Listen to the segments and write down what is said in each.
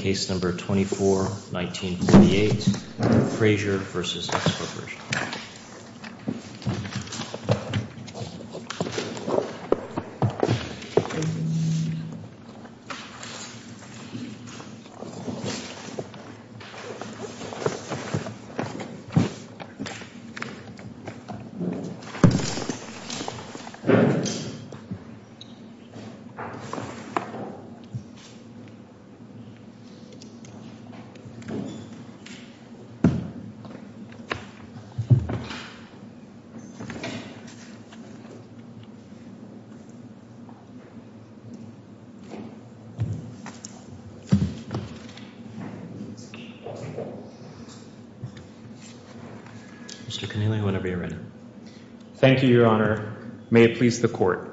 Case No. 24-1948 Frazier v. X Corp. Case No. 24-1948 Frazier v. X Corp. Mr. Keneally, whenever you're ready. Thank you, Your Honor. May it please the Court.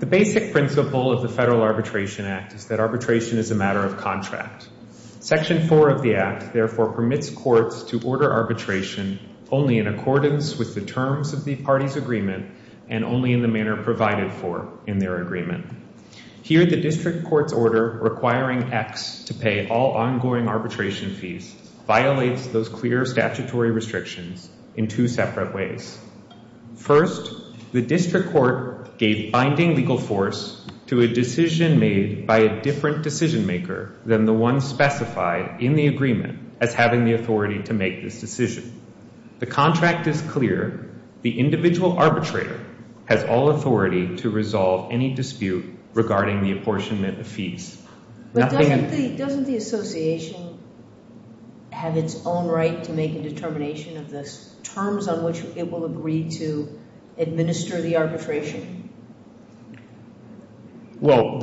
The basic principle of the Federal Arbitration Act is that arbitration is a matter of contract. Section 4 of the Act, therefore, permits courts to order arbitration only in accordance with the terms of the party's agreement and only in the manner provided for in their agreement. Here, the district court's order requiring X to pay all ongoing arbitration fees violates those clear statutory restrictions in two separate ways. First, the district court gave binding legal force to a decision made by a different decision-maker than the one specified in the agreement as having the authority to make this decision. The contract is clear. The individual arbitrator has all authority to resolve any dispute regarding the apportionment of fees. But doesn't the association have its own right to make a determination of the terms on which it will agree to administer the arbitration? Well,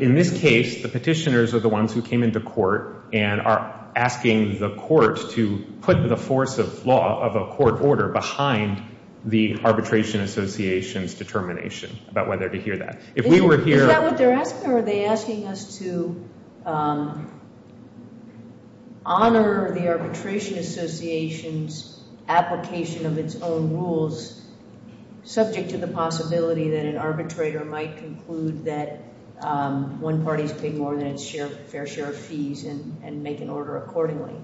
in this case, the petitioners are the ones who came into court and are asking the court to put the force of law of a court order behind the arbitration association's determination about whether to hear that. Is that what they're asking, or are they asking us to honor the arbitration association's application of its own rules subject to the possibility that an arbitrator might conclude that one party is paying more than its fair share of fees and make an order accordingly?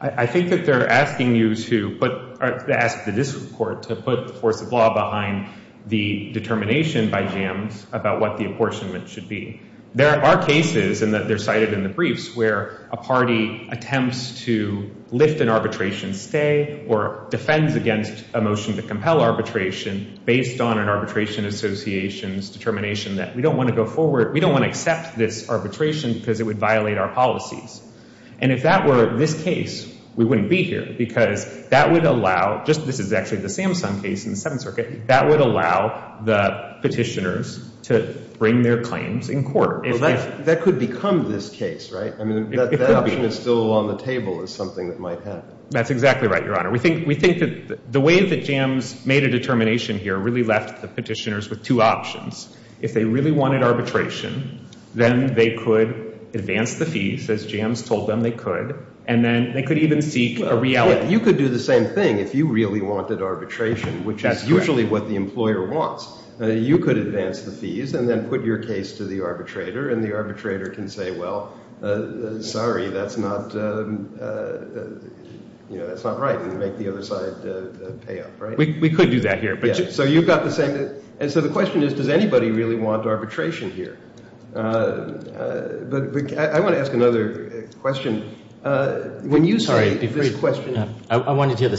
I think that they're asking you to ask the district court to put the force of law behind the determination by JAMS about what the apportionment should be. There are cases, and they're cited in the briefs, where a party attempts to lift an arbitration stay or defends against a motion to compel arbitration based on an arbitration association's determination that we don't want to go forward, we don't want to accept this arbitration because it would violate our policies. And if that were this case, we wouldn't be here because that would allow, this is actually the Samsung case in the Seventh Circuit, that would allow the petitioners to bring their claims in court. Well, that could become this case, right? I mean, that option is still on the table as something that might happen. That's exactly right, Your Honor. We think that the way that JAMS made a determination here really left the petitioners with two options. If they really wanted arbitration, then they could advance the fees, as JAMS told them they could, and then they could even seek a reality. You could do the same thing if you really wanted arbitration, which is usually what the employer wants. You could advance the fees and then put your case to the arbitrator, and the arbitrator can say, well, sorry, that's not right, and make the other side pay up, right? We could do that here. So you've got the same thing. And so the question is, does anybody really want arbitration here? But I want to ask another question. I wanted to hear the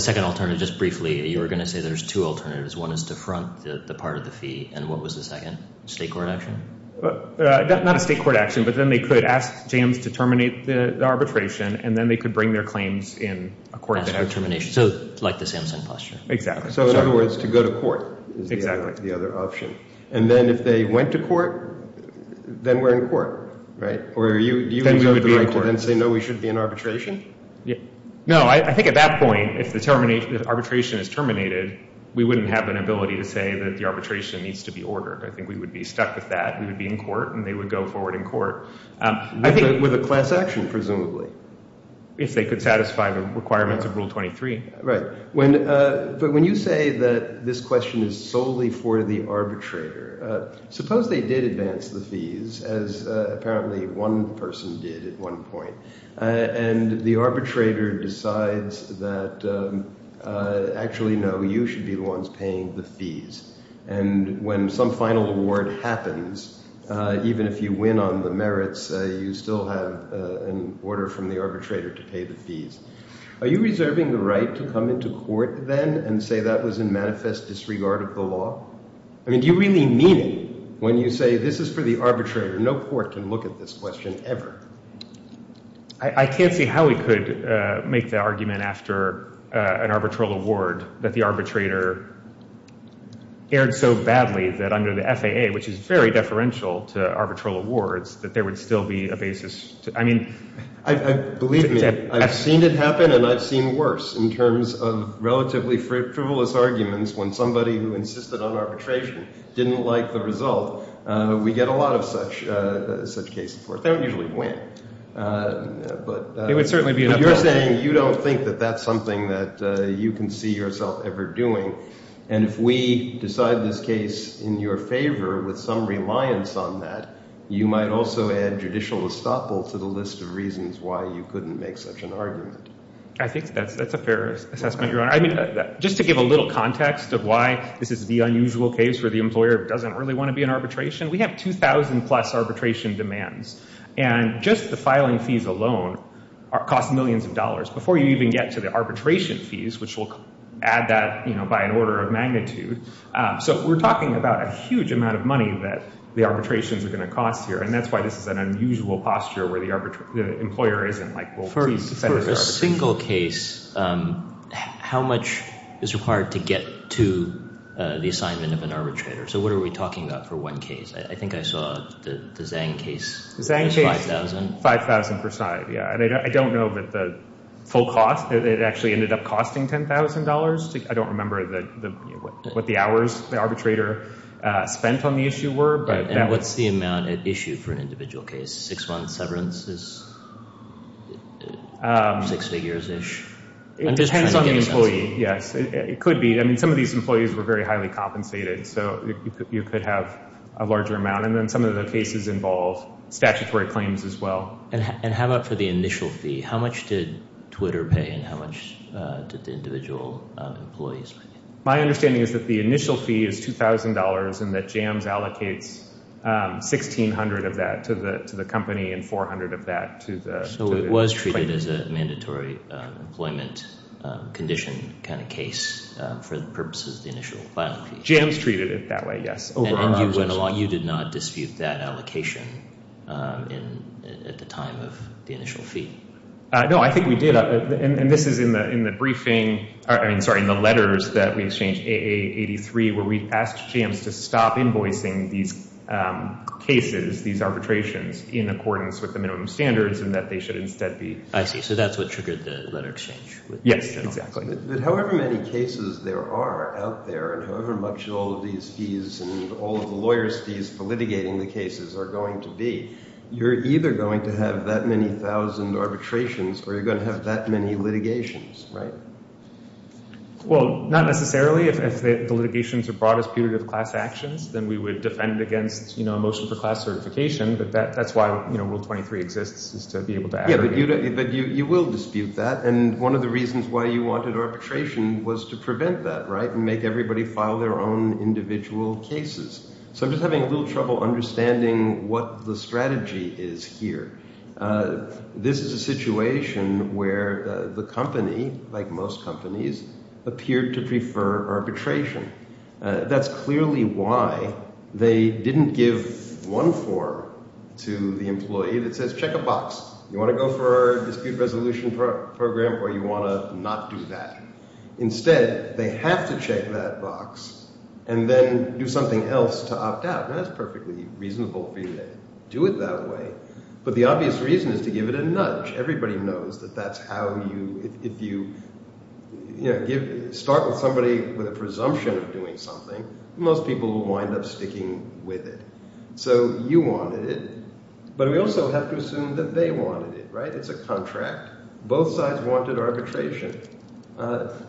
second alternative just briefly. You were going to say there's two alternatives. One is to front the part of the fee, and what was the second? State court action? Not a state court action, but then they could ask JAMS to terminate the arbitration, and then they could bring their claims in a court case. So like the Samsung posture. Exactly. So in other words, to go to court is the other option. And then if they went to court, then we're in court, right? Or do you have the right to then say, no, we should be in arbitration? No, I think at that point, if the arbitration is terminated, we wouldn't have an ability to say that the arbitration needs to be ordered. I think we would be stuck with that. We would be in court, and they would go forward in court. With a class action, presumably. If they could satisfy the requirements of Rule 23. Right. But when you say that this question is solely for the arbitrator, suppose they did advance the fees, as apparently one person did at one point, and the arbitrator decides that actually, no, you should be the ones paying the fees. And when some final award happens, even if you win on the merits, you still have an order from the arbitrator to pay the fees. Are you reserving the right to come into court then and say that was in manifest disregard of the law? I mean, do you really mean it when you say this is for the arbitrator? No court can look at this question ever. I can't see how we could make the argument after an arbitral award that the arbitrator erred so badly that under the FAA, which is very deferential to arbitral awards, that there would still be a basis. Believe me, I've seen it happen and I've seen worse in terms of relatively frivolous arguments when somebody who insisted on arbitration didn't like the result. We get a lot of such cases. They don't usually win. But you're saying you don't think that that's something that you can see yourself ever doing. And if we decide this case in your favor with some reliance on that, you might also add judicial estoppel to the list of reasons why you couldn't make such an argument. I think that's a fair assessment, Your Honor. I mean, just to give a little context of why this is the unusual case where the employer doesn't really want to be in arbitration, we have 2,000 plus arbitration demands. And just the filing fees alone cost millions of dollars. Before you even get to the arbitration fees, which will add that by an order of magnitude. So we're talking about a huge amount of money that the arbitrations are going to cost here. And that's why this is an unusual posture where the employer isn't like, well, please defend this arbitration. For a single case, how much is required to get to the assignment of an arbitrator? So what are we talking about for one case? I think I saw the Zhang case was 5,000. The Zhang case, 5,000 per side. And I don't know that the full cost, it actually ended up costing $10,000. I don't remember what the hours the arbitrator spent on the issue were. And what's the amount at issue for an individual case? Six months severance is six figures-ish. It depends on the employee, yes. It could be. I mean, some of these employees were very highly compensated. So you could have a larger amount. And then some of the cases involve statutory claims as well. And how about for the initial fee? How much did Twitter pay and how much did the individual employees pay? My understanding is that the initial fee is $2,000 and that JAMS allocates $1,600 of that to the company and $400 of that to the claim. So it was treated as a mandatory employment condition kind of case for the purposes of the initial filing fee? JAMS treated it that way, yes. And you did not dispute that allocation at the time of the initial fee? No, I think we did. And this is in the letters that we exchanged, AA83, where we asked JAMS to stop invoicing these cases, these arbitrations, in accordance with the minimum standards and that they should instead be- I see. So that's what triggered the letter exchange. Yes, exactly. But however many cases there are out there, and however much all of these fees and all of the lawyers' fees for litigating the cases are going to be, you're either going to have that many thousand arbitrations or you're going to have that many litigations, right? Well, not necessarily. If the litigations are brought as putative class actions, then we would defend against a motion for class certification. But that's why Rule 23 exists, is to be able to- Yes, but you will dispute that. And one of the reasons why you wanted arbitration was to prevent that, right, and make everybody file their own individual cases. So I'm just having a little trouble understanding what the strategy is here. This is a situation where the company, like most companies, appeared to prefer arbitration. That's clearly why they didn't give one form to the employee that says, You want to go for a dispute resolution program or you want to not do that? Instead, they have to check that box and then do something else to opt out. And that's perfectly reasonable for you to do it that way. But the obvious reason is to give it a nudge. Everybody knows that that's how you- If you start with somebody with a presumption of doing something, most people will wind up sticking with it. So you wanted it. But we also have to assume that they wanted it, right? It's a contract. Both sides wanted arbitration.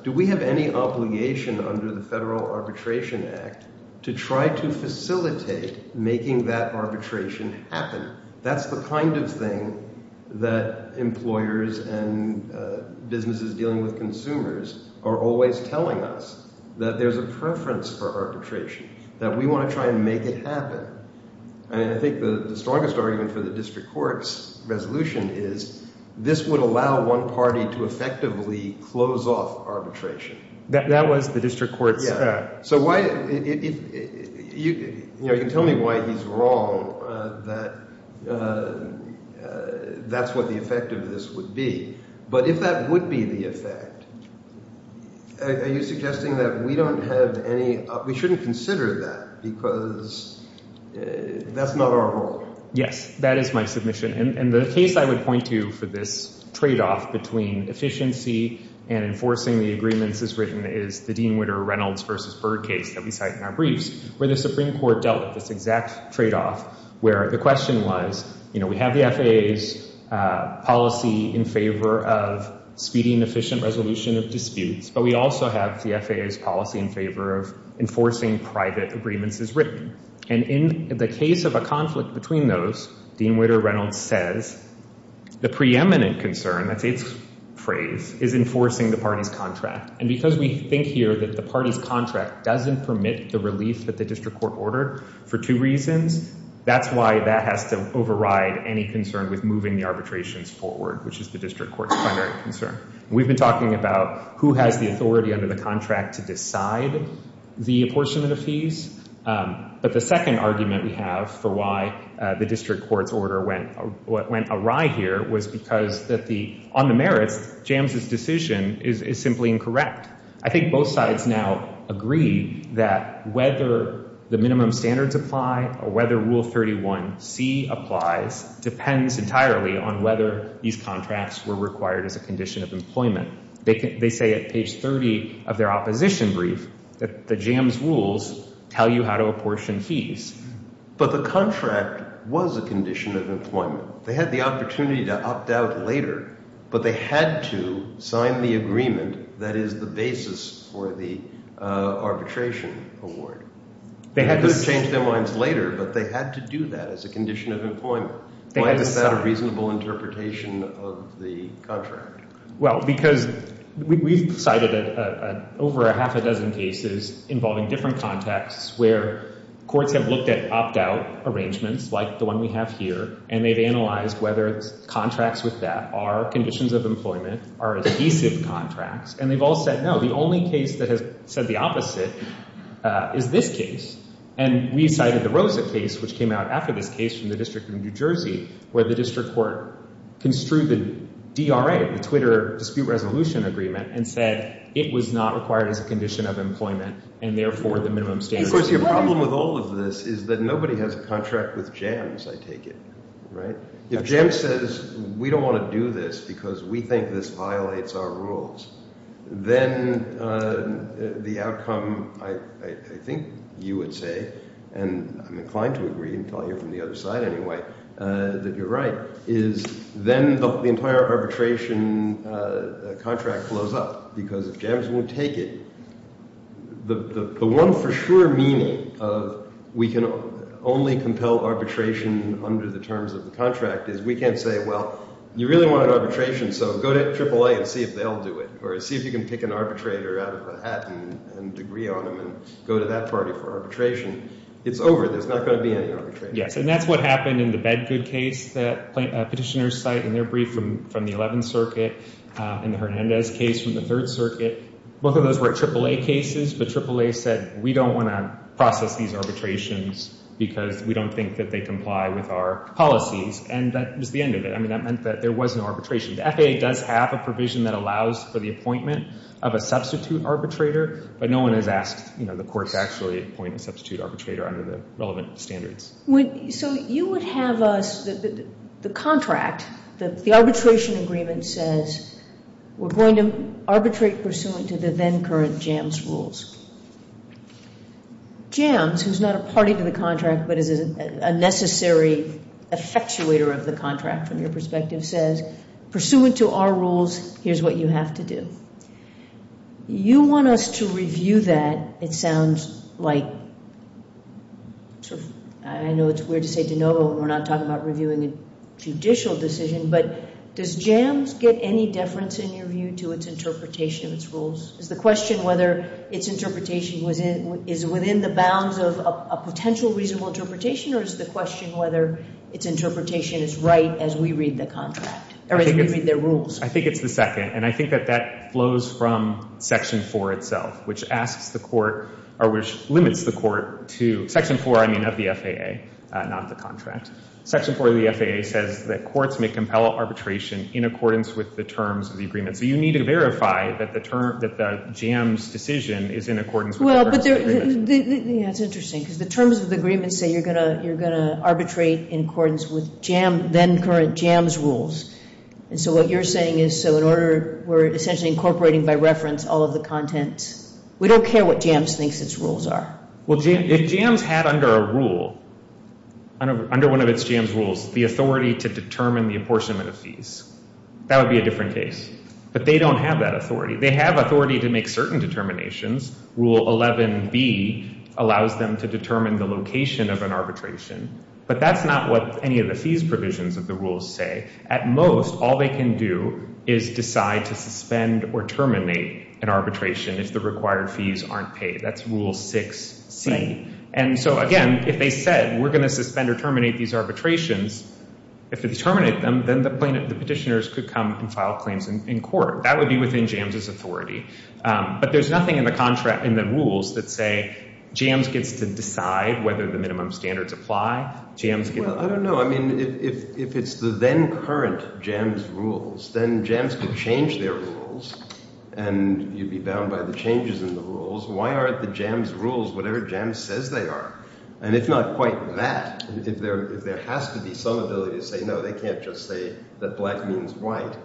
Do we have any obligation under the Federal Arbitration Act to try to facilitate making that arbitration happen? That's the kind of thing that employers and businesses dealing with consumers are always telling us, that there's a preference for arbitration, that we want to try and make it happen. I think the strongest argument for the district court's resolution is this would allow one party to effectively close off arbitration. That was the district court's- Yeah. You can tell me why he's wrong that that's what the effect of this would be. But if that would be the effect, are you suggesting that we don't have any- We shouldn't consider that because that's not our role. Yes. That is my submission. And the case I would point to for this tradeoff between efficiency and enforcing the agreements as written is the Dean Witter-Reynolds v. Byrd case that we cite in our briefs, where the Supreme Court dealt with this exact tradeoff where the question was, we have the FAA's policy in favor of speeding efficient resolution of disputes, but we also have the FAA's policy in favor of enforcing private agreements as written. And in the case of a conflict between those, Dean Witter-Reynolds says, the preeminent concern, that's its phrase, is enforcing the party's contract. And because we think here that the party's contract doesn't permit the relief that the district court ordered for two reasons, that's why that has to override any concern with moving the arbitrations forward, which is the district court's primary concern. We've been talking about who has the authority under the contract to decide the apportionment of fees, but the second argument we have for why the district court's order went awry here was because on the merits, Jams' decision is simply incorrect. I think both sides now agree that whether the minimum standards apply or whether Rule 31C applies depends entirely on whether these contracts were required as a condition of employment. They say at page 30 of their opposition brief that the Jams' rules tell you how to apportion fees. But the contract was a condition of employment. They had the opportunity to opt out later, but they had to sign the agreement that is the basis for the arbitration award. They could have changed their minds later, but they had to do that as a condition of employment. Why is that a reasonable interpretation of the contract? Well, because we've cited over a half a dozen cases involving different contexts where courts have looked at opt-out arrangements like the one we have here and they've analyzed whether contracts with that are conditions of employment, are adhesive contracts, and they've all said no. The only case that has said the opposite is this case. And we cited the Rosa case, which came out after this case from the District of New Jersey, where the district court construed the DRA, the Twitter Dispute Resolution Agreement, and said it was not required as a condition of employment and, therefore, the minimum standards. Of course, your problem with all of this is that nobody has a contract with Jams, I take it. If Jams says we don't want to do this because we think this violates our rules, then the outcome, I think you would say, and I'm inclined to agree until I hear from the other side anyway, that you're right, is then the entire arbitration contract blows up because if Jams won't take it, the one for sure meaning of we can only compel arbitration under the terms of the contract is we can't say, well, you really want an arbitration, so go to AAA and see if they'll do it or see if you can pick an arbitrator out of a hat and agree on them and go to that party for arbitration. It's over. There's not going to be any arbitration. Yes, and that's what happened in the Bedgood case that petitioners cite in their brief from the 11th Circuit and the Hernandez case from the 3rd Circuit. Both of those were AAA cases, but AAA said we don't want to process these arbitrations because we don't think that they comply with our policies, and that was the end of it. I mean, that meant that there was no arbitration. The FAA does have a provision that allows for the appointment of a substitute arbitrator, but no one has asked the court to actually appoint a substitute arbitrator under the relevant standards. So you would have us, the contract, the arbitration agreement says we're going to arbitrate pursuant to the then current Jams rules. Jams, who's not a party to the contract but is a necessary effectuator of the contract from your perspective, says pursuant to our rules, here's what you have to do. You want us to review that. It sounds like, I know it's weird to say de novo when we're not talking about reviewing a judicial decision, but does Jams get any deference in your view to its interpretation of its rules? Is the question whether its interpretation is within the bounds of a potential reasonable interpretation or is the question whether its interpretation is right as we read the contract, or as we read the rules? I think it's the second, and I think that that flows from Section 4 itself, which asks the court, or which limits the court to Section 4, I mean, of the FAA, not the contract. Section 4 of the FAA says that courts may compel arbitration in accordance with the terms of the agreement. So you need to verify that the Jams decision is in accordance with the terms of the agreement. That's interesting, because the terms of the agreement say you're going to arbitrate in accordance with then current Jams rules. And so what you're saying is, so in order, we're essentially incorporating by reference all of the contents. We don't care what Jams thinks its rules are. Well, if Jams had under a rule, under one of its Jams rules, the authority to determine the apportionment of fees, that would be a different case. But they don't have that authority. They have authority to make certain determinations. Rule 11B allows them to determine the location of an arbitration. But that's not what any of the fees provisions of the rules say. At most, all they can do is decide to suspend or terminate an arbitration if the required fees aren't paid. That's Rule 6C. And so, again, if they said we're going to suspend or terminate these arbitrations, if we terminate them, then the petitioners could come and file claims in court. That would be within Jams' authority. But there's nothing in the rules that say Jams gets to decide whether the minimum standards apply. Well, I don't know. I mean, if it's the then current Jams rules, then Jams could change their rules, and you'd be bound by the changes in the rules. Why aren't the Jams rules whatever Jams says they are? And if not quite that, if there has to be some ability to say, no, they can't just say that black means white,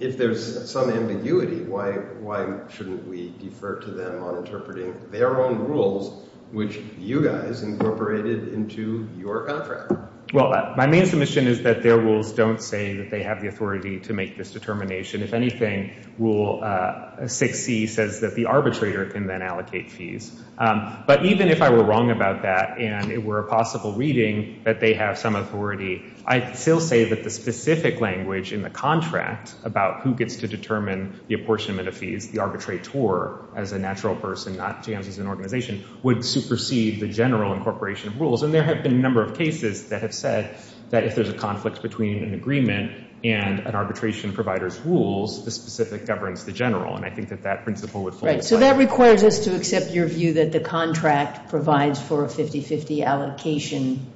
if there's some ambiguity, why shouldn't we defer to them on interpreting their own rules, which you guys incorporated into your contract? Well, my main submission is that their rules don't say that they have the authority to make this determination. If anything, Rule 6C says that the arbitrator can then allocate fees. But even if I were wrong about that and it were a possible reading that they have some authority, I'd still say that the specific language in the contract about who gets to determine the apportionment of fees, the arbitrator as a natural person, not Jams as an organization, would supersede the general incorporation of rules. And there have been a number of cases that have said that if there's a conflict between an agreement and an arbitration provider's rules, the specific governs the general. And I think that that principle would fully apply. So that requires us to accept your view that the contract provides for a 50-50 allocation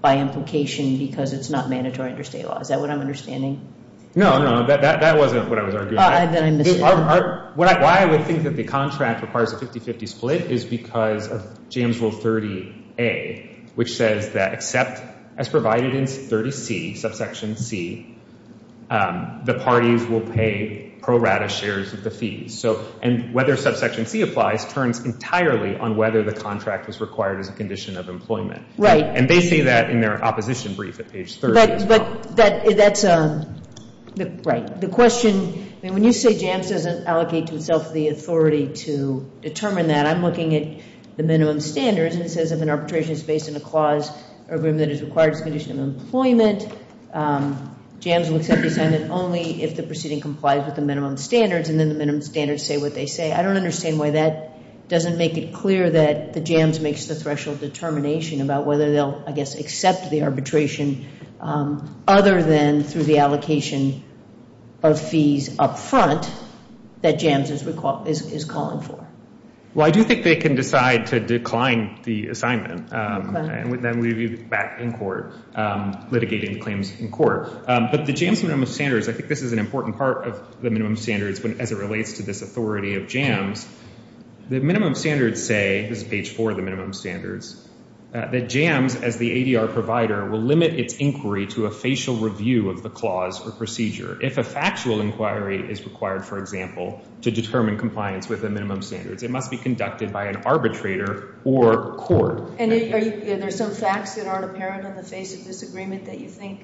by implication because it's not mandatory under state law. Is that what I'm understanding? No, no. That wasn't what I was arguing. Why I would think that the contract requires a 50-50 split is because of Jams Rule 30A, which says that except as provided in 30C, subsection C, the parties will pay pro rata shares of the fees. So and whether subsection C applies turns entirely on whether the contract is required as a condition of employment. And they say that in their opposition brief at page 30 as well. But that's a, right. The question, I mean, when you say Jams doesn't allocate to itself the authority to determine that, I'm looking at the minimum standards, and it says if an arbitration is based on a clause or agreement that is required as a condition of employment, Jams will accept the assignment only if the proceeding complies with the minimum standards and then the minimum standards say what they say. I don't understand why that doesn't make it clear that the Jams makes the threshold determination about whether they'll, I guess, accept the arbitration other than through the allocation of fees up front that Jams is calling for. Well, I do think they can decide to decline the assignment, and then we'd be back in court litigating the claims in court. But the Jams minimum standards, I think this is an important part of the minimum standards as it relates to this authority of Jams. The minimum standards say, this is page 4 of the minimum standards, that Jams, as the ADR provider, will limit its inquiry to a facial review of the clause or procedure. If a factual inquiry is required, for example, to determine compliance with the minimum standards, it must be conducted by an arbitrator or court. And are there some facts that aren't apparent on the face of this agreement that you think?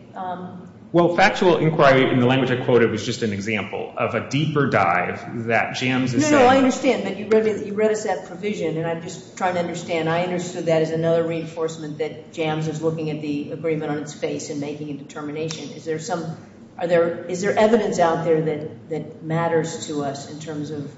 Well, factual inquiry, in the language I quoted, was just an example of a deeper dive that Jams is saying. No, no, I understand, but you read us that provision, and I'm just trying to understand. I understood that as another reinforcement that Jams is looking at the agreement on its face and making a determination. Is there evidence out there that matters to us in terms of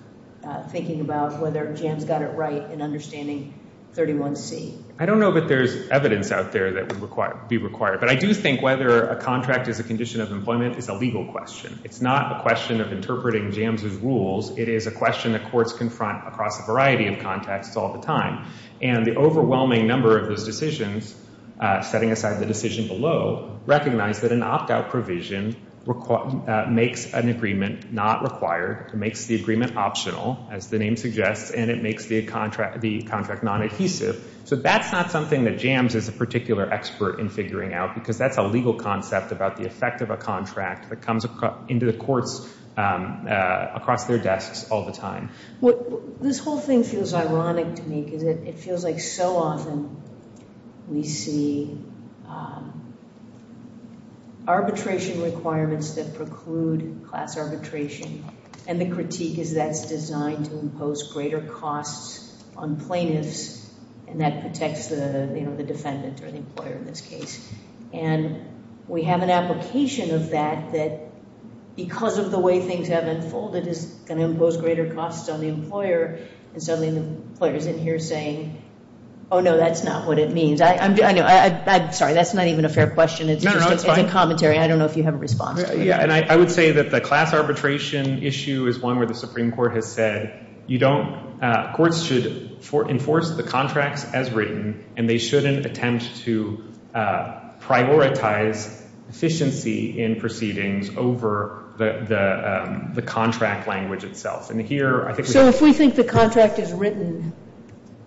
thinking about whether Jams got it right in understanding 31C? I don't know that there's evidence out there that would be required. But I do think whether a contract is a condition of employment is a legal question. It's not a question of interpreting Jams' rules. It is a question that courts confront across a variety of contexts all the time. And the overwhelming number of those decisions, setting aside the decision below, recognize that an opt-out provision makes an agreement not required, makes the agreement optional, as the name suggests, and it makes the contract non-adhesive. So that's not something that Jams is a particular expert in figuring out, because that's a legal concept about the effect of a contract that comes into the courts across their desks all the time. This whole thing feels ironic to me because it feels like so often we see arbitration requirements that preclude class arbitration. And the critique is that's designed to impose greater costs on plaintiffs, and that protects the defendant or the employer in this case. And we have an application of that that because of the way things have unfolded is going to impose greater costs on the employer, and suddenly the employer is in here saying, oh, no, that's not what it means. I'm sorry, that's not even a fair question. It's a commentary. I don't know if you have a response to that. Yeah, and I would say that the class arbitration issue is one where the Supreme Court has said courts should enforce the contracts as written, and they shouldn't attempt to prioritize efficiency in proceedings over the contract language itself. So if we think the contract as written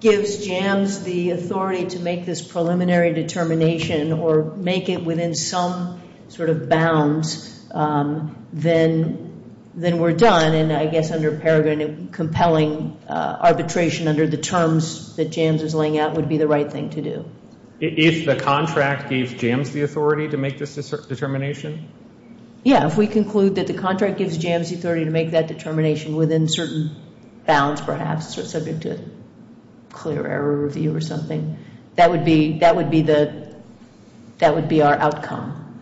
gives Jams the authority to make this preliminary determination or make it within some sort of bounds, then we're done. And I guess under Peregrine compelling arbitration under the terms that Jams is laying out would be the right thing to do. If the contract gives Jams the authority to make this determination? Yeah, if we conclude that the contract gives Jams the authority to make that determination within certain bounds perhaps, subject to clear error review or something, that would be our outcome.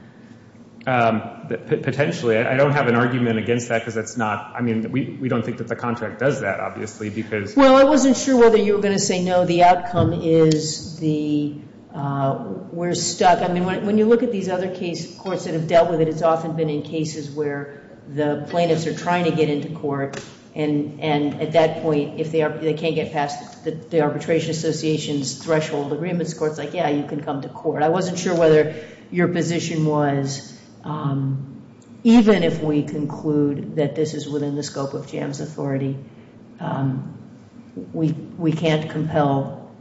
Potentially. I don't have an argument against that because it's not we don't think that the contract does that, obviously. Well, I wasn't sure whether you were going to say no. The outcome is we're stuck. I mean, when you look at these other courts that have dealt with it, it's often been in cases where the plaintiffs are trying to get into court, and at that point if they can't get past the arbitration association's threshold agreements, the court's like, yeah, you can come to court. I wasn't sure whether your position was even if we conclude that this is within the scope of Jams' authority, we can't compel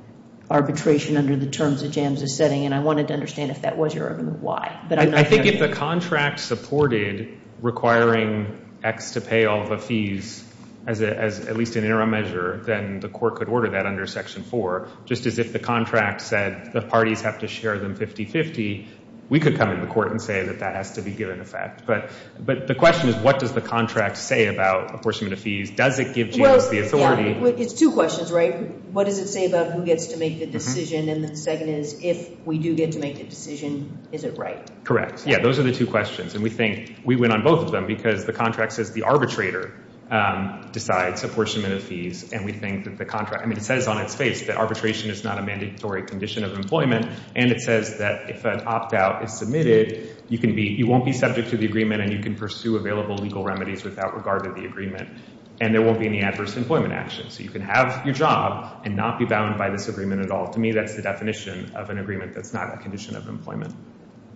arbitration under the terms that Jams is setting, and I wanted to understand if that was your argument, why. I think if the contract supported requiring X to pay all the fees as at least an interim measure, then the court could order that under Section 4, just as if the contract said the parties have to share them 50-50, we could come into court and say that that has to be given effect. But the question is what does the contract say about apportionment of fees? Does it give Jams the authority? It's two questions, right? What does it say about who gets to make the decision? And the second is if we do get to make the decision, is it right? Correct. Yeah, those are the two questions, and we think we went on both of them because the contract says the arbitrator decides apportionment of fees, and we think that the contract, I mean it says on its face that arbitration is not a mandatory condition of employment, and it says that if an opt-out is submitted, you won't be subject to the agreement and you can pursue available legal remedies without regard to the agreement, and there won't be any adverse employment action. So you can have your job and not be bound by this agreement at all. To me, that's the definition of an agreement that's not a condition of employment.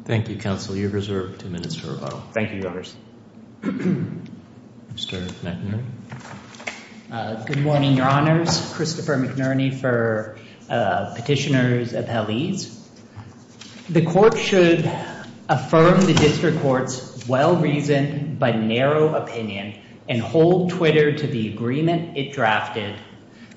Thank you, counsel. You're reserved two minutes for rebuttal. Thank you, Your Honors. Mr. McNerney. Good morning, Your Honors. Christopher McNerney for Petitioners of Helize. The court should affirm the district court's well-reasoned but narrow opinion and hold Twitter to the agreement it drafted,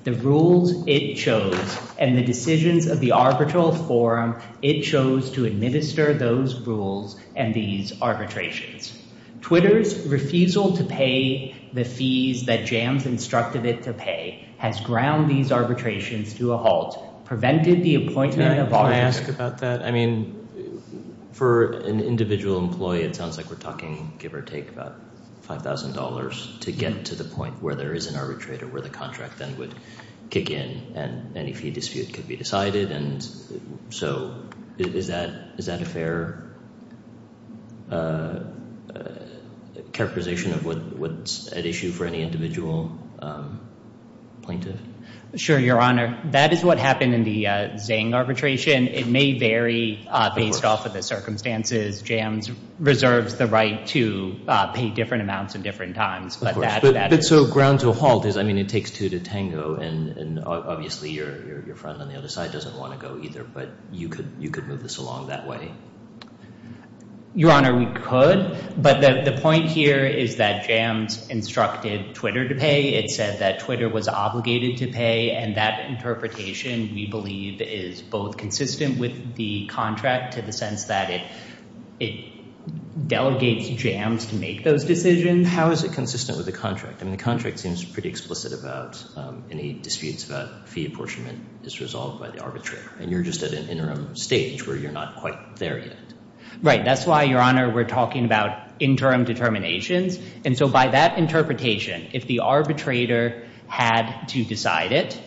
the rules it chose, and the decisions of the arbitral forum it chose to administer those rules and these arbitrations. Twitter's refusal to pay the fees that Jams instructed it to pay has ground these arbitrations to a halt, prevented the appointment of all- Can I ask about that? I mean, for an individual employee, it sounds like we're talking give or take about $5,000 to get to the point where there is an arbitrator where the contract then would kick in and any fee dispute could be decided. So is that a fair characterization of what's at issue for any individual plaintiff? Sure, Your Honor. That is what happened in the Zhang arbitration. It may vary based off of the circumstances. Jams reserves the right to pay different amounts at different times. But so ground to a halt is, I mean, it takes two to tango, and obviously your friend on the other side doesn't want to go either, but you could move this along that way. Your Honor, we could, but the point here is that Jams instructed Twitter to pay. It said that Twitter was obligated to pay, and that interpretation we believe is both consistent with the contract to the sense that it delegates Jams to make those decisions. How is it consistent with the contract? I mean, the contract seems pretty explicit about any disputes about fee apportionment is resolved by the arbitrator, and you're just at an interim stage where you're not quite there yet. Right. That's why, Your Honor, we're talking about interim determinations. And so by that interpretation, if the arbitrator had to decide it,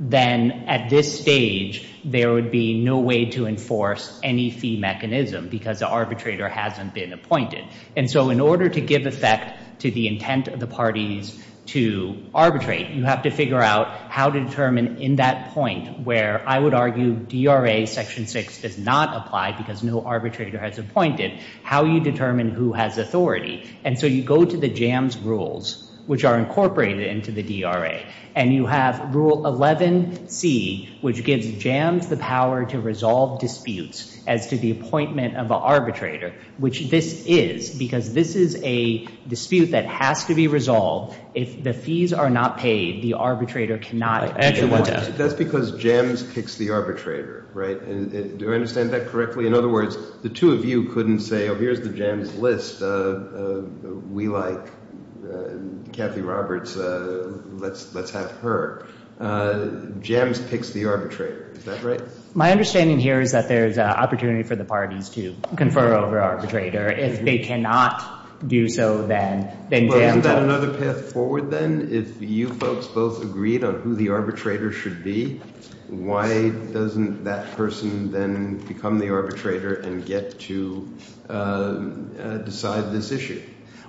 then at this stage there would be no way to enforce any fee mechanism because the arbitrator hasn't been appointed. And so in order to give effect to the intent of the parties to arbitrate, you have to figure out how to determine in that point where I would argue DRA Section 6 does not apply because no arbitrator has appointed, how you determine who has authority. And so you go to the Jams rules, which are incorporated into the DRA, and you have Rule 11C, which gives Jams the power to resolve disputes as to the appointment of an arbitrator, which this is, because this is a dispute that has to be resolved. If the fees are not paid, the arbitrator cannot be appointed. That's because Jams picks the arbitrator, right? Do I understand that correctly? In other words, the two of you couldn't say, oh, here's the Jams list. We like Kathy Roberts. Let's have her. Jams picks the arbitrator. Is that right? My understanding here is that there is an opportunity for the parties to confer over arbitrator. If they cannot do so, then Jams— Well, isn't that another path forward then? If you folks both agreed on who the arbitrator should be, why doesn't that person then become the arbitrator and get to decide this issue?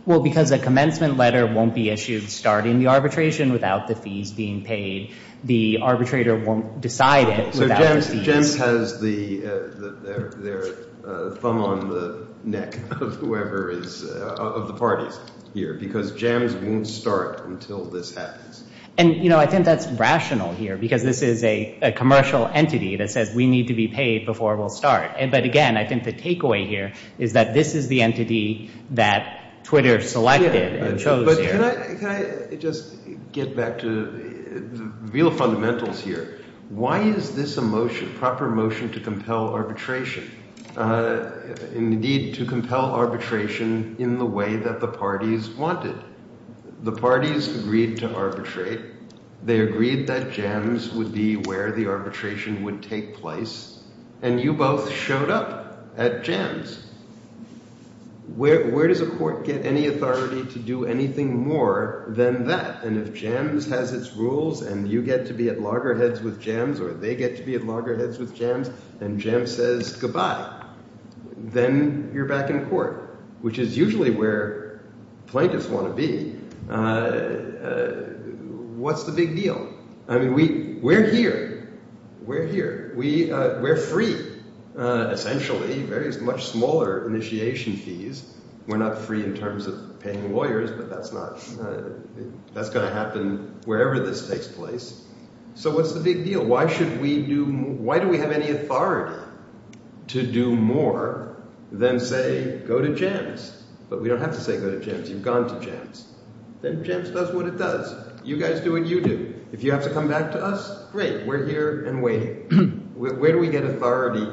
Well, because a commencement letter won't be issued starting the arbitration without the fees being paid. The arbitrator won't decide it without the fees. So Jams has their thumb on the neck of whoever is—of the parties here, because Jams won't start until this happens. And, you know, I think that's rational here because this is a commercial entity that says we need to be paid before we'll start. But, again, I think the takeaway here is that this is the entity that Twitter selected and chose here. But can I just get back to the real fundamentals here? Why is this a motion, proper motion, to compel arbitration? Indeed, to compel arbitration in the way that the parties wanted. The parties agreed to arbitrate. They agreed that Jams would be where the arbitration would take place. And you both showed up at Jams. Where does a court get any authority to do anything more than that? And if Jams has its rules and you get to be at loggerheads with Jams or they get to be at loggerheads with Jams and Jams says goodbye, then you're back in court, which is usually where plaintiffs want to be. What's the big deal? I mean, we're here. We're here. We're free, essentially. Very much smaller initiation fees. We're not free in terms of paying lawyers, but that's going to happen wherever this takes place. So what's the big deal? Why do we have any authority to do more than say go to Jams? But we don't have to say go to Jams. You've gone to Jams. Then Jams does what it does. You guys do what you do. If you have to come back to us, great. We're here and waiting. Where do we get authority?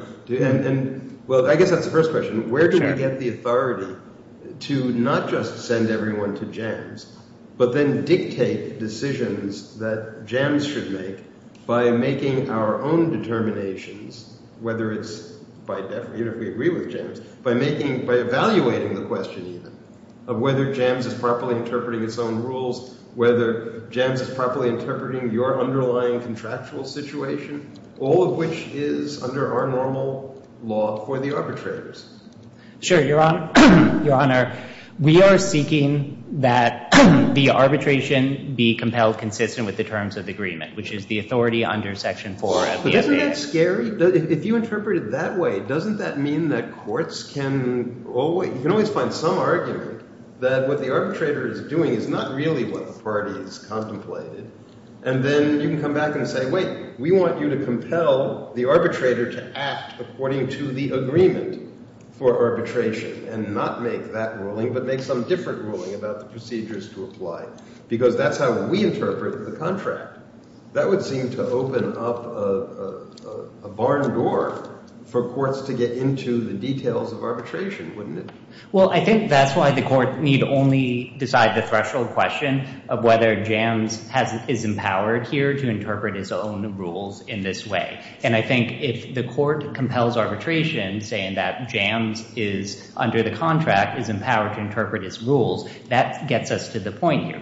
Well, I guess that's the first question. Where do we get the authority to not just send everyone to Jams, but then dictate decisions that Jams should make by making our own determinations, whether it's if we agree with Jams, by evaluating the question even of whether Jams is properly interpreting its own rules, whether Jams is properly interpreting your underlying contractual situation, all of which is under our normal law for the arbitrators. Sure, Your Honor. We are seeking that the arbitration be compelled consistent with the terms of agreement, which is the authority under Section 4 of the FBI. Isn't that scary? If you interpret it that way, doesn't that mean that courts can always find some argument that what the arbitrator is doing is not really what the parties contemplated? And then you can come back and say, wait, we want you to compel the arbitrator to act according to the agreement for arbitration and not make that ruling but make some different ruling about the procedures to apply because that's how we interpret the contract. That would seem to open up a barn door for courts to get into the details of arbitration, wouldn't it? Well, I think that's why the court need only decide the threshold question of whether Jams is empowered here to interpret its own rules in this way. And I think if the court compels arbitration saying that Jams is under the contract, is empowered to interpret its rules, that gets us to the point here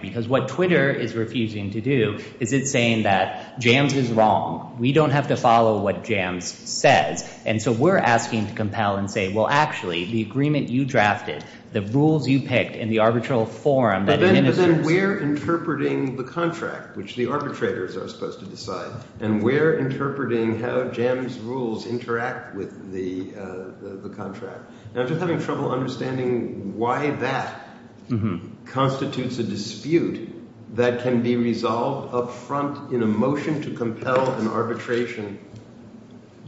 is it's saying that Jams is wrong. We don't have to follow what Jams says. And so we're asking to compel and say, well, actually, the agreement you drafted, the rules you picked, and the arbitral forum that administers. But then we're interpreting the contract, which the arbitrators are supposed to decide, and we're interpreting how Jams' rules interact with the contract. Now, I'm just having trouble understanding why that constitutes a dispute that can be resolved up front in a motion to compel an arbitration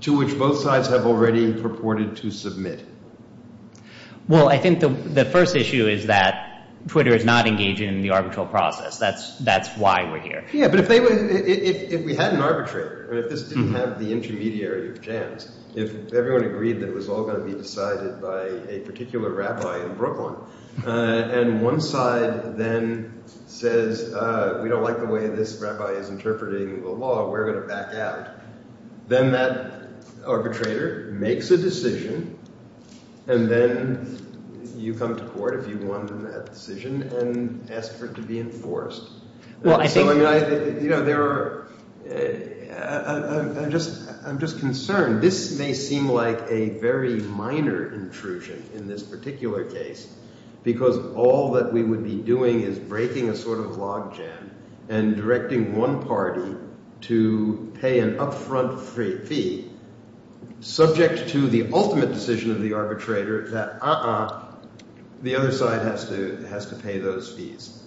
to which both sides have already purported to submit. Well, I think the first issue is that Twitter is not engaging in the arbitral process. That's why we're here. Yeah, but if we had an arbitrator, if this didn't have the intermediary of Jams, if everyone agreed that it was all going to be decided by a particular rabbi in Brooklyn, and one side then says, we don't like the way this rabbi is interpreting the law, we're going to back out, then that arbitrator makes a decision, and then you come to court if you won that decision and ask for it to be enforced. You know, there are – I'm just concerned. This may seem like a very minor intrusion in this particular case because all that we would be doing is breaking a sort of logjam and directing one party to pay an up-front fee subject to the ultimate decision of the arbitrator that uh-uh, the other side has to pay those fees.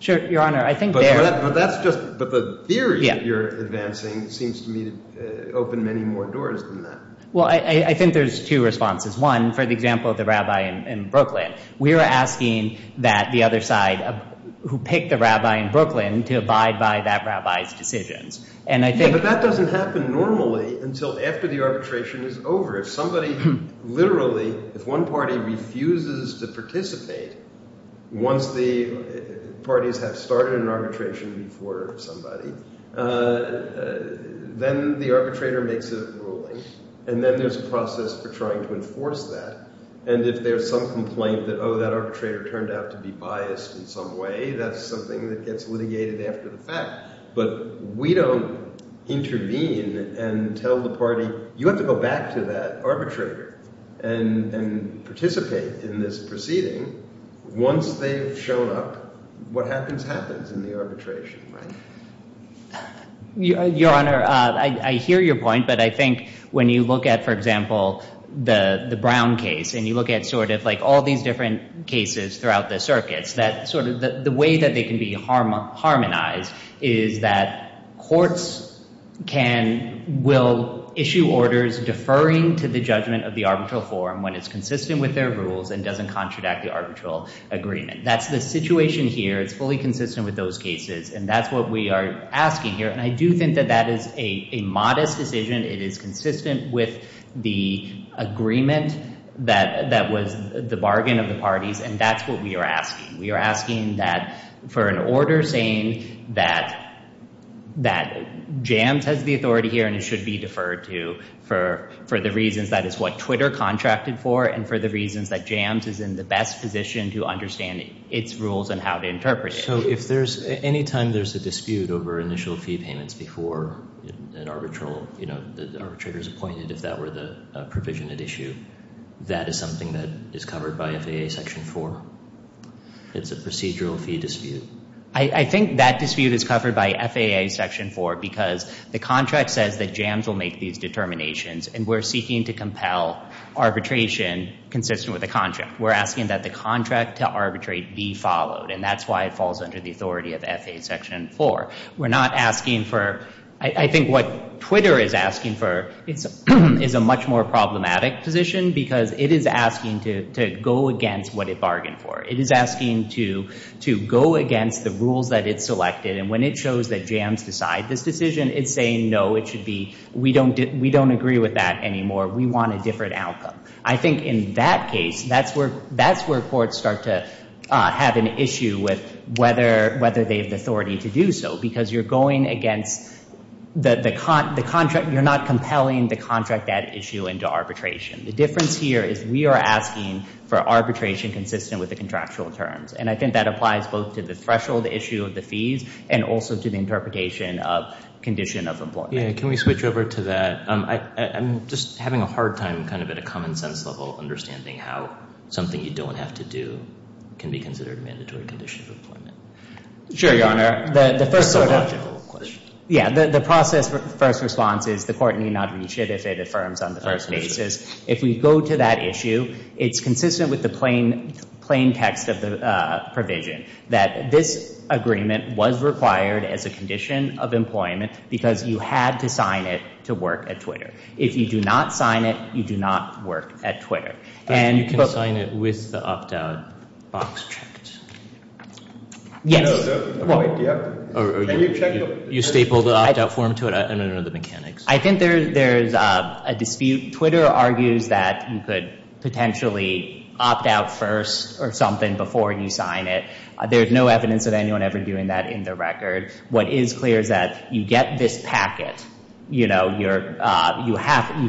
Sure, Your Honor. I think there – But that's just – but the theory that you're advancing seems to me to open many more doors than that. Well, I think there's two responses. One, for the example of the rabbi in Brooklyn, we are asking that the other side who picked the rabbi in Brooklyn to abide by that rabbi's decisions, and I think – Yeah, but that doesn't happen normally until after the arbitration is over. If somebody literally – if one party refuses to participate once the parties have started an arbitration before somebody, then the arbitrator makes a ruling, and then there's a process for trying to enforce that. And if there's some complaint that, oh, that arbitrator turned out to be biased in some way, that's something that gets litigated after the fact. But we don't intervene and tell the party, you have to go back to that arbitrator and participate in this proceeding. Once they've shown up, what happens happens in the arbitration, right? Your Honor, I hear your point, but I think when you look at, for example, the Brown case, and you look at sort of like all these different cases throughout the circuits, the way that they can be harmonized is that courts will issue orders deferring to the judgment of the arbitral forum when it's consistent with their rules and doesn't contradict the arbitral agreement. That's the situation here. It's fully consistent with those cases, and that's what we are asking here, and I do think that that is a modest decision. It is consistent with the agreement that was the bargain of the parties, and that's what we are asking. We are asking that for an order saying that JAMS has the authority here and it should be deferred to for the reasons that is what Twitter contracted for and for the reasons that JAMS is in the best position to understand its rules and how to interpret it. So if there's any time there's a dispute over initial fee payments before an arbitral, you know, the arbitrator is appointed, if that were the provision at issue, that is something that is covered by FAA Section 4. It's a procedural fee dispute. I think that dispute is covered by FAA Section 4 because the contract says that JAMS will make these determinations, and we're seeking to compel arbitration consistent with the contract. We're asking that the contract to arbitrate be followed, and that's why it falls under the authority of FAA Section 4. We're not asking for, I think what Twitter is asking for, is a much more problematic position because it is asking to go against what it bargained for. It is asking to go against the rules that it selected, and when it shows that JAMS decided this decision, it's saying, no, we don't agree with that anymore. We want a different outcome. I think in that case, that's where courts start to have an issue with whether they have the authority to do so because you're going against the contract. You're not compelling the contract at issue into arbitration. The difference here is we are asking for arbitration consistent with the contractual terms, and I think that applies both to the threshold issue of the fees and also to the interpretation of condition of employment. Can we switch over to that? I'm just having a hard time kind of at a common sense level understanding how something you don't have to do can be considered a mandatory condition of employment. Sure, Your Honor. It's a logical question. Yeah, the process for first response is the court need not reach it if it affirms on the first basis. If we go to that issue, it's consistent with the plain text of the provision that this agreement was required as a condition of employment because you had to sign it to work at Twitter. If you do not sign it, you do not work at Twitter. You can sign it with the opt-out box checked. Yes. You stapled the opt-out form to it? I don't know the mechanics. I think there's a dispute. Twitter argues that you could potentially opt out first or something before you sign it. There's no evidence of anyone ever doing that in the record. What is clear is that you get this packet. You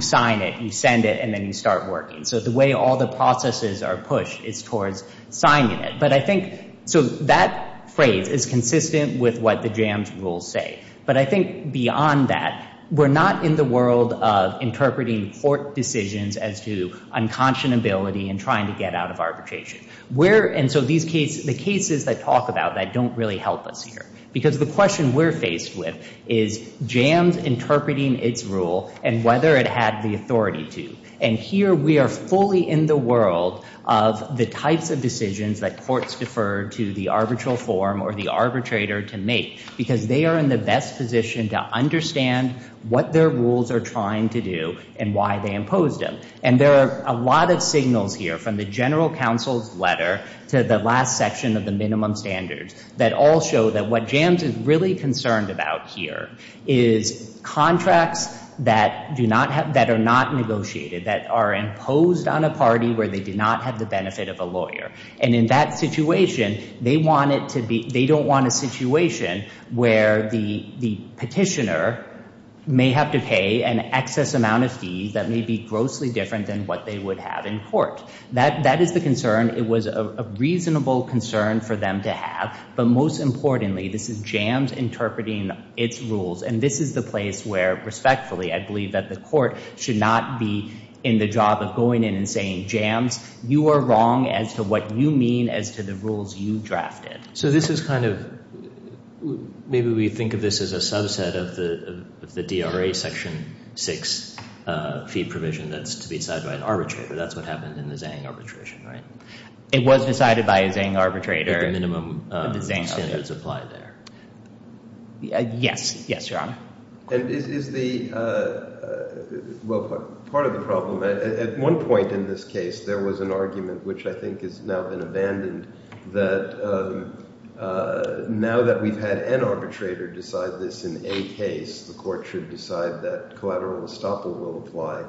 sign it, you send it, and then you start working. So the way all the processes are pushed is towards signing it. That phrase is consistent with what the JAMS rules say. But I think beyond that, we're not in the world of interpreting court decisions as to unconscionability and trying to get out of arbitration. The cases that talk about that don't really help us here because the question we're faced with is JAMS interpreting its rule and whether it had the authority to. And here we are fully in the world of the types of decisions that courts defer to the arbitral form or the arbitrator to make because they are in the best position to understand what their rules are trying to do and why they imposed them. And there are a lot of signals here from the general counsel's letter to the last section of the minimum standards that all show that what JAMS is really concerned about here is contracts that are not negotiated, that are imposed on a party where they do not have the benefit of a lawyer. And in that situation, they don't want a situation where the petitioner may have to pay an excess amount of fees that may be grossly different than what they would have in court. That is the concern. It was a reasonable concern for them to have. But most importantly, this is JAMS interpreting its rules. And this is the place where, respectfully, I believe that the court should not be in the job of going in and saying, JAMS, you are wrong as to what you mean as to the rules you drafted. So this is kind of maybe we think of this as a subset of the DRA Section 6 fee provision that's to be decided by an arbitrator. That's what happened in the Zhang arbitration, right? It was decided by a Zhang arbitrator. The minimum standards apply there. Yes. Yes, Your Honor. And is the – well, part of the problem, at one point in this case, there was an argument, which I think has now been abandoned, that now that we've had an arbitrator decide this in a case, the court should decide that collateral estoppel will apply.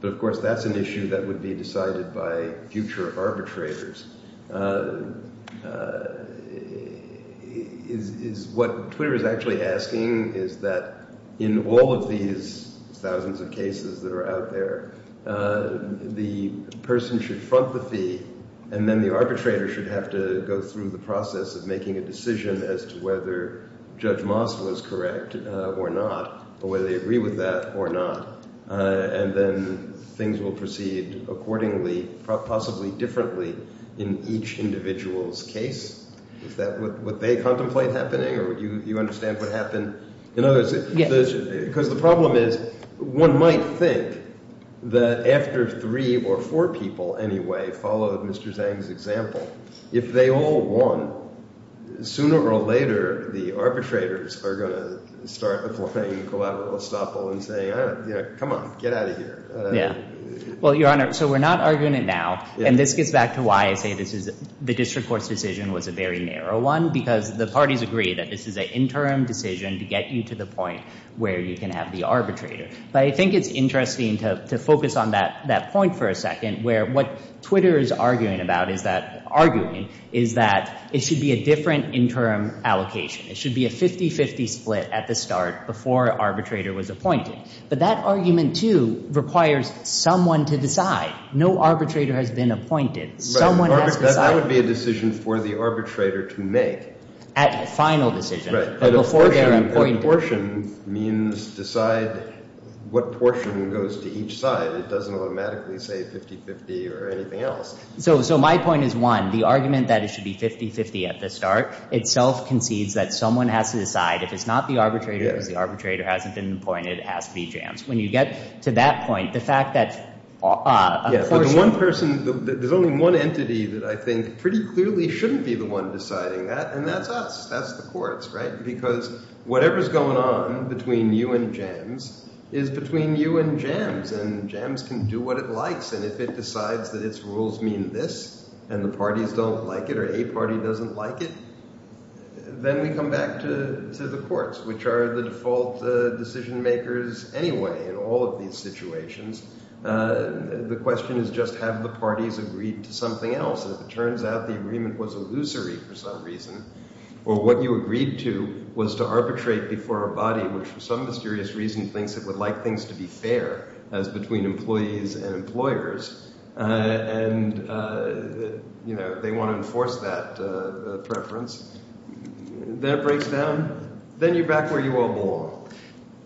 But, of course, that's an issue that would be decided by future arbitrators. What Twitter is actually asking is that in all of these thousands of cases that are out there, the person should front the fee, and then the arbitrator should have to go through the process of making a decision as to whether Judge Moss was correct or not, or whether they agree with that or not. And then things will proceed accordingly, possibly differently, in each individual's case. Is that what they contemplate happening, or do you understand what happened in others? Yes. Because the problem is one might think that after three or four people anyway followed Mr. Zhang's example, if they all won, sooner or later the arbitrators are going to start applying collateral estoppel and say, come on, get out of here. Well, Your Honor, so we're not arguing it now, and this gets back to why I say the district court's decision was a very narrow one, because the parties agree that this is an interim decision to get you to the point where you can have the arbitrator. But I think it's interesting to focus on that point for a second, where what Twitter is arguing is that it should be a different interim allocation. It should be a 50-50 split at the start before an arbitrator was appointed. But that argument, too, requires someone to decide. No arbitrator has been appointed. Someone has decided. That would be a decision for the arbitrator to make. At final decision. Right. But a portion means decide what portion goes to each side. It doesn't automatically say 50-50 or anything else. So my point is, one, the argument that it should be 50-50 at the start itself concedes that someone has to decide. If it's not the arbitrator, because the arbitrator hasn't been appointed, it has to be Jams. When you get to that point, the fact that a portion. There's only one entity that I think pretty clearly shouldn't be the one deciding that, and that's us. That's the courts, right? Because whatever's going on between you and Jams is between you and Jams, and Jams can do what it likes. And if it decides that its rules mean this and the parties don't like it or a party doesn't like it, then we come back to the courts, which are the default decision-makers anyway in all of these situations. The question is just have the parties agreed to something else. And if it turns out the agreement was illusory for some reason, or what you agreed to was to arbitrate before a body, which for some mysterious reason thinks it would like things to be fair, as between employees and employers, and they want to enforce that preference, that breaks down. Then you're back where you all belong.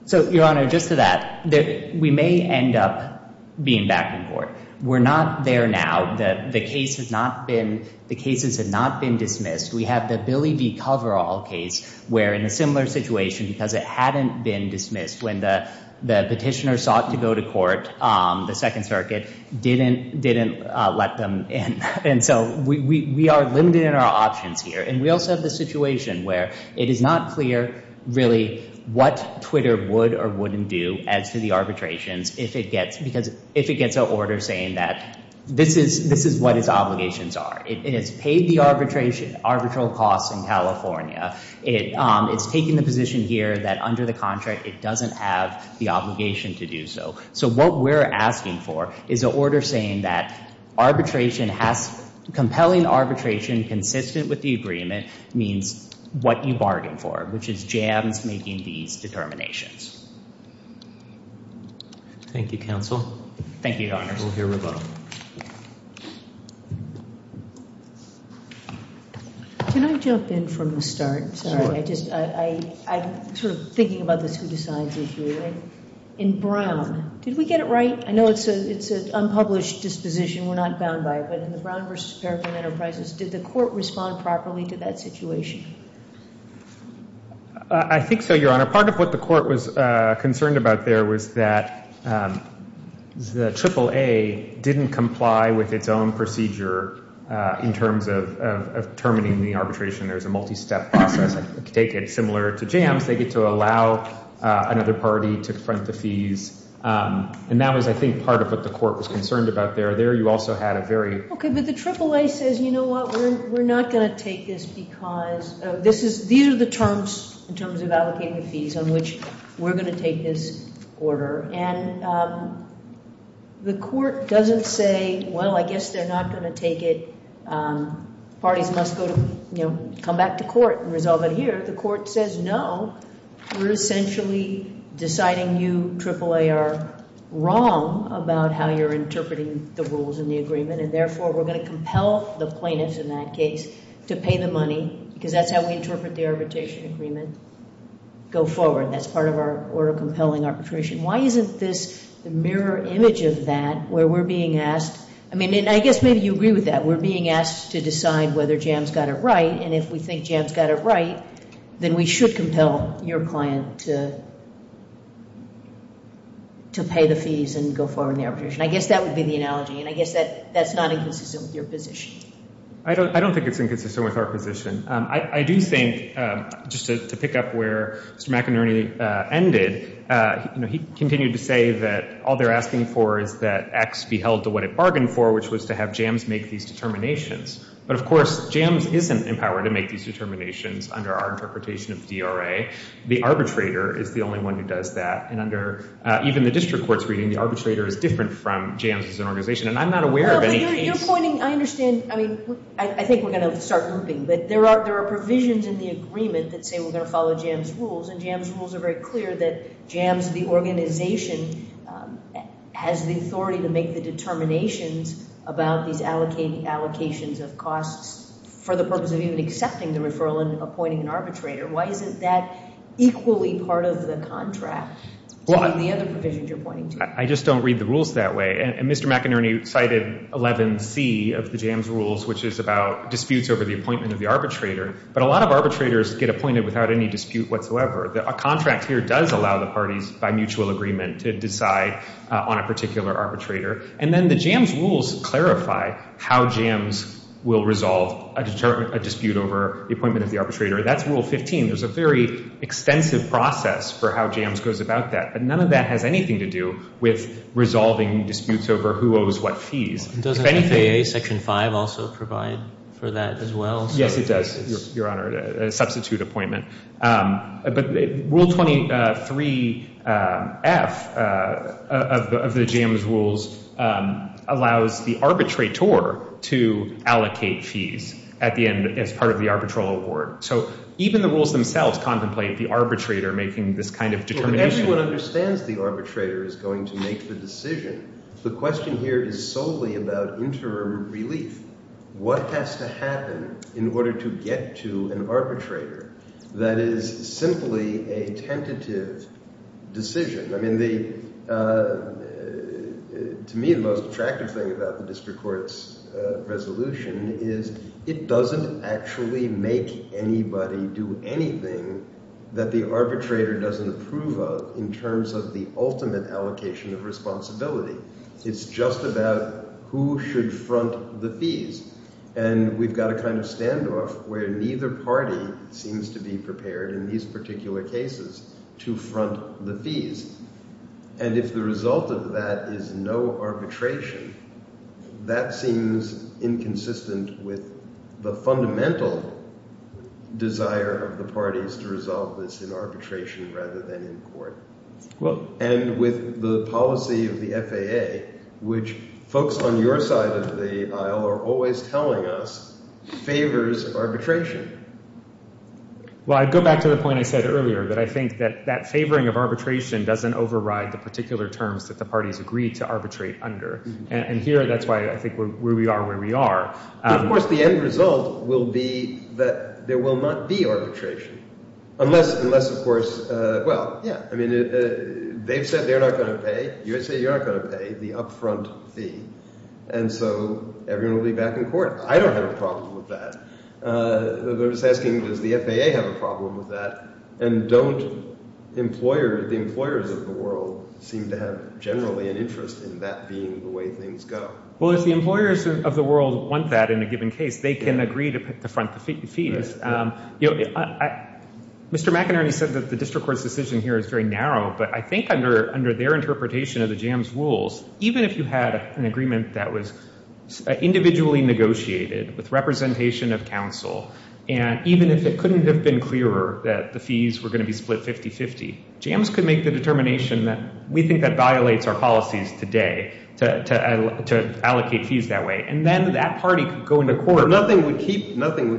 So, Your Honor, just to that, we may end up being back in court. We're not there now. The cases have not been dismissed. We have the Billy V. Coverall case where, in a similar situation, because it hadn't been dismissed when the petitioner sought to go to court, the Second Circuit didn't let them in. And so we are limited in our options here. And we also have the situation where it is not clear, really, what Twitter would or wouldn't do as to the arbitrations if it gets a order saying that this is what its obligations are. It has paid the arbitral costs in California. It's taken the position here that, under the contract, it doesn't have the obligation to do so. So what we're asking for is an order saying that compelling arbitration consistent with the agreement means what you bargain for, which is jams making these determinations. Thank you, counsel. Thank you, Your Honor. We'll hear from both. Can I jump in from the start? Sorry, I'm sort of thinking about this who decides issue. In Brown, did we get it right? I know it's an unpublished disposition. We're not bound by it. But in the Brown v. Paragon Enterprises, did the court respond properly to that situation? I think so, Your Honor. Part of what the court was concerned about there was that the AAA didn't comply with its own procedure in terms of terminating the arbitration. There's a multi-step process. I take it similar to jams. They get to allow another party to front the fees. And that was, I think, part of what the court was concerned about there. There you also had a very ---- Okay, but the AAA says, you know what, we're not going to take this because these are the terms in terms of allocating the fees on which we're going to take this order. And the court doesn't say, well, I guess they're not going to take it. Parties must go to, you know, come back to court and resolve it here. The court says, no, we're essentially deciding you, AAA, are wrong about how you're interpreting the rules in the agreement, and therefore we're going to compel the plaintiffs in that case to pay the money because that's how we interpret the arbitration agreement. Go forward. That's part of our order compelling arbitration. Why isn't this the mirror image of that where we're being asked? I mean, and I guess maybe you agree with that. We're being asked to decide whether JAMS got it right, and if we think JAMS got it right, then we should compel your client to pay the fees and go forward in the arbitration. I guess that would be the analogy, and I guess that's not inconsistent with your position. I don't think it's inconsistent with our position. I do think, just to pick up where Mr. McInerney ended, he continued to say that all they're asking for is that X be held to what it bargained for, which was to have JAMS make these determinations. But, of course, JAMS isn't empowered to make these determinations under our interpretation of DRA. The arbitrator is the only one who does that, and under even the district court's reading, the arbitrator is different from JAMS as an organization, and I'm not aware of any case. Well, but you're pointing, I understand, I mean, I think we're going to start looping, but there are provisions in the agreement that say we're going to follow JAMS rules, and JAMS rules are very clear that JAMS, the organization, has the authority to make the determinations about these allocations of costs for the purpose of even accepting the referral and appointing an arbitrator. Why isn't that equally part of the contract in the other provisions you're pointing to? I just don't read the rules that way, and Mr. McInerney cited 11C of the JAMS rules, which is about disputes over the appointment of the arbitrator, but a lot of arbitrators get appointed without any dispute whatsoever. A contract here does allow the parties by mutual agreement to decide on a particular arbitrator, and then the JAMS rules clarify how JAMS will resolve a dispute over the appointment of the arbitrator. That's Rule 15. There's a very extensive process for how JAMS goes about that, but none of that has anything to do with resolving disputes over who owes what fees. Doesn't FAA Section 5 also provide for that as well? Yes, it does, Your Honor, a substitute appointment. But Rule 23F of the JAMS rules allows the arbitrator to allocate fees at the end as part of the arbitral award. So even the rules themselves contemplate the arbitrator making this kind of determination. Everyone understands the arbitrator is going to make the decision. The question here is solely about interim relief. What has to happen in order to get to an arbitrator that is simply a tentative decision? I mean, to me, the most attractive thing about the district court's resolution is it doesn't actually make anybody do anything that the arbitrator doesn't approve of in terms of the ultimate allocation of responsibility. It's just about who should front the fees. And we've got a kind of standoff where neither party seems to be prepared in these particular cases to front the fees. And if the result of that is no arbitration, that seems inconsistent with the fundamental desire of the parties to resolve this in arbitration rather than in court. And with the policy of the FAA, which folks on your side of the aisle are always telling us favors arbitration. Well, I'd go back to the point I said earlier that I think that that favoring of arbitration doesn't override the particular terms that the parties agree to arbitrate under. And here, that's why I think where we are where we are. Of course, the end result will be that there will not be arbitration unless, of course – well, yeah. I mean they've said they're not going to pay. You said you're not going to pay the upfront fee. And so everyone will be back in court. I don't have a problem with that. I was asking does the FAA have a problem with that? And don't employer – the employers of the world seem to have generally an interest in that being the way things go? Well, if the employers of the world want that in a given case, they can agree to front the fees. Mr. McInerney said that the district court's decision here is very narrow, but I think under their interpretation of the JAMS rules, even if you had an agreement that was individually negotiated with representation of counsel and even if it couldn't have been clearer that the fees were going to be split 50-50, JAMS could make the determination that we think that violates our policies today to allocate fees that way. And then that party could go into court. But nothing would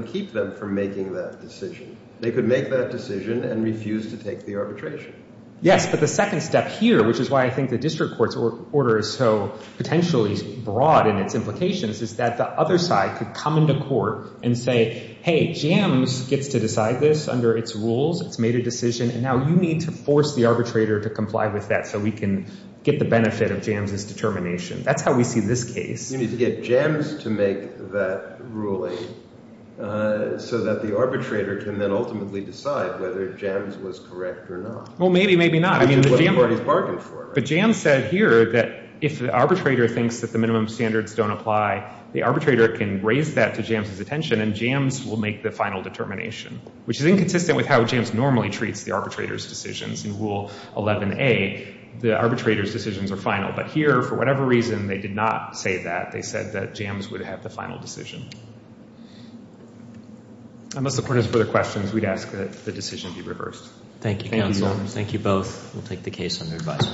keep them from making that decision. They could make that decision and refuse to take the arbitration. Yes, but the second step here, which is why I think the district court's order is so potentially broad in its implications, is that the other side could come into court and say, hey, JAMS gets to decide this under its rules. It's made a decision, and now you need to force the arbitrator to comply with that so we can get the benefit of JAMS's determination. That's how we see this case. You need to get JAMS to make that ruling so that the arbitrator can then ultimately decide whether JAMS was correct or not. Well, maybe, maybe not. Which is what the parties bargained for. But JAMS said here that if the arbitrator thinks that the minimum standards don't apply, the arbitrator can raise that to JAMS's attention, and JAMS will make the final determination, which is inconsistent with how JAMS normally treats the arbitrator's decisions. In Rule 11a, the arbitrator's decisions are final. But here, for whatever reason, they did not say that. They said that JAMS would have the final decision. Unless the court has further questions, we'd ask that the decision be reversed. Thank you, counsel. Thank you, both. We'll take the case under advisory.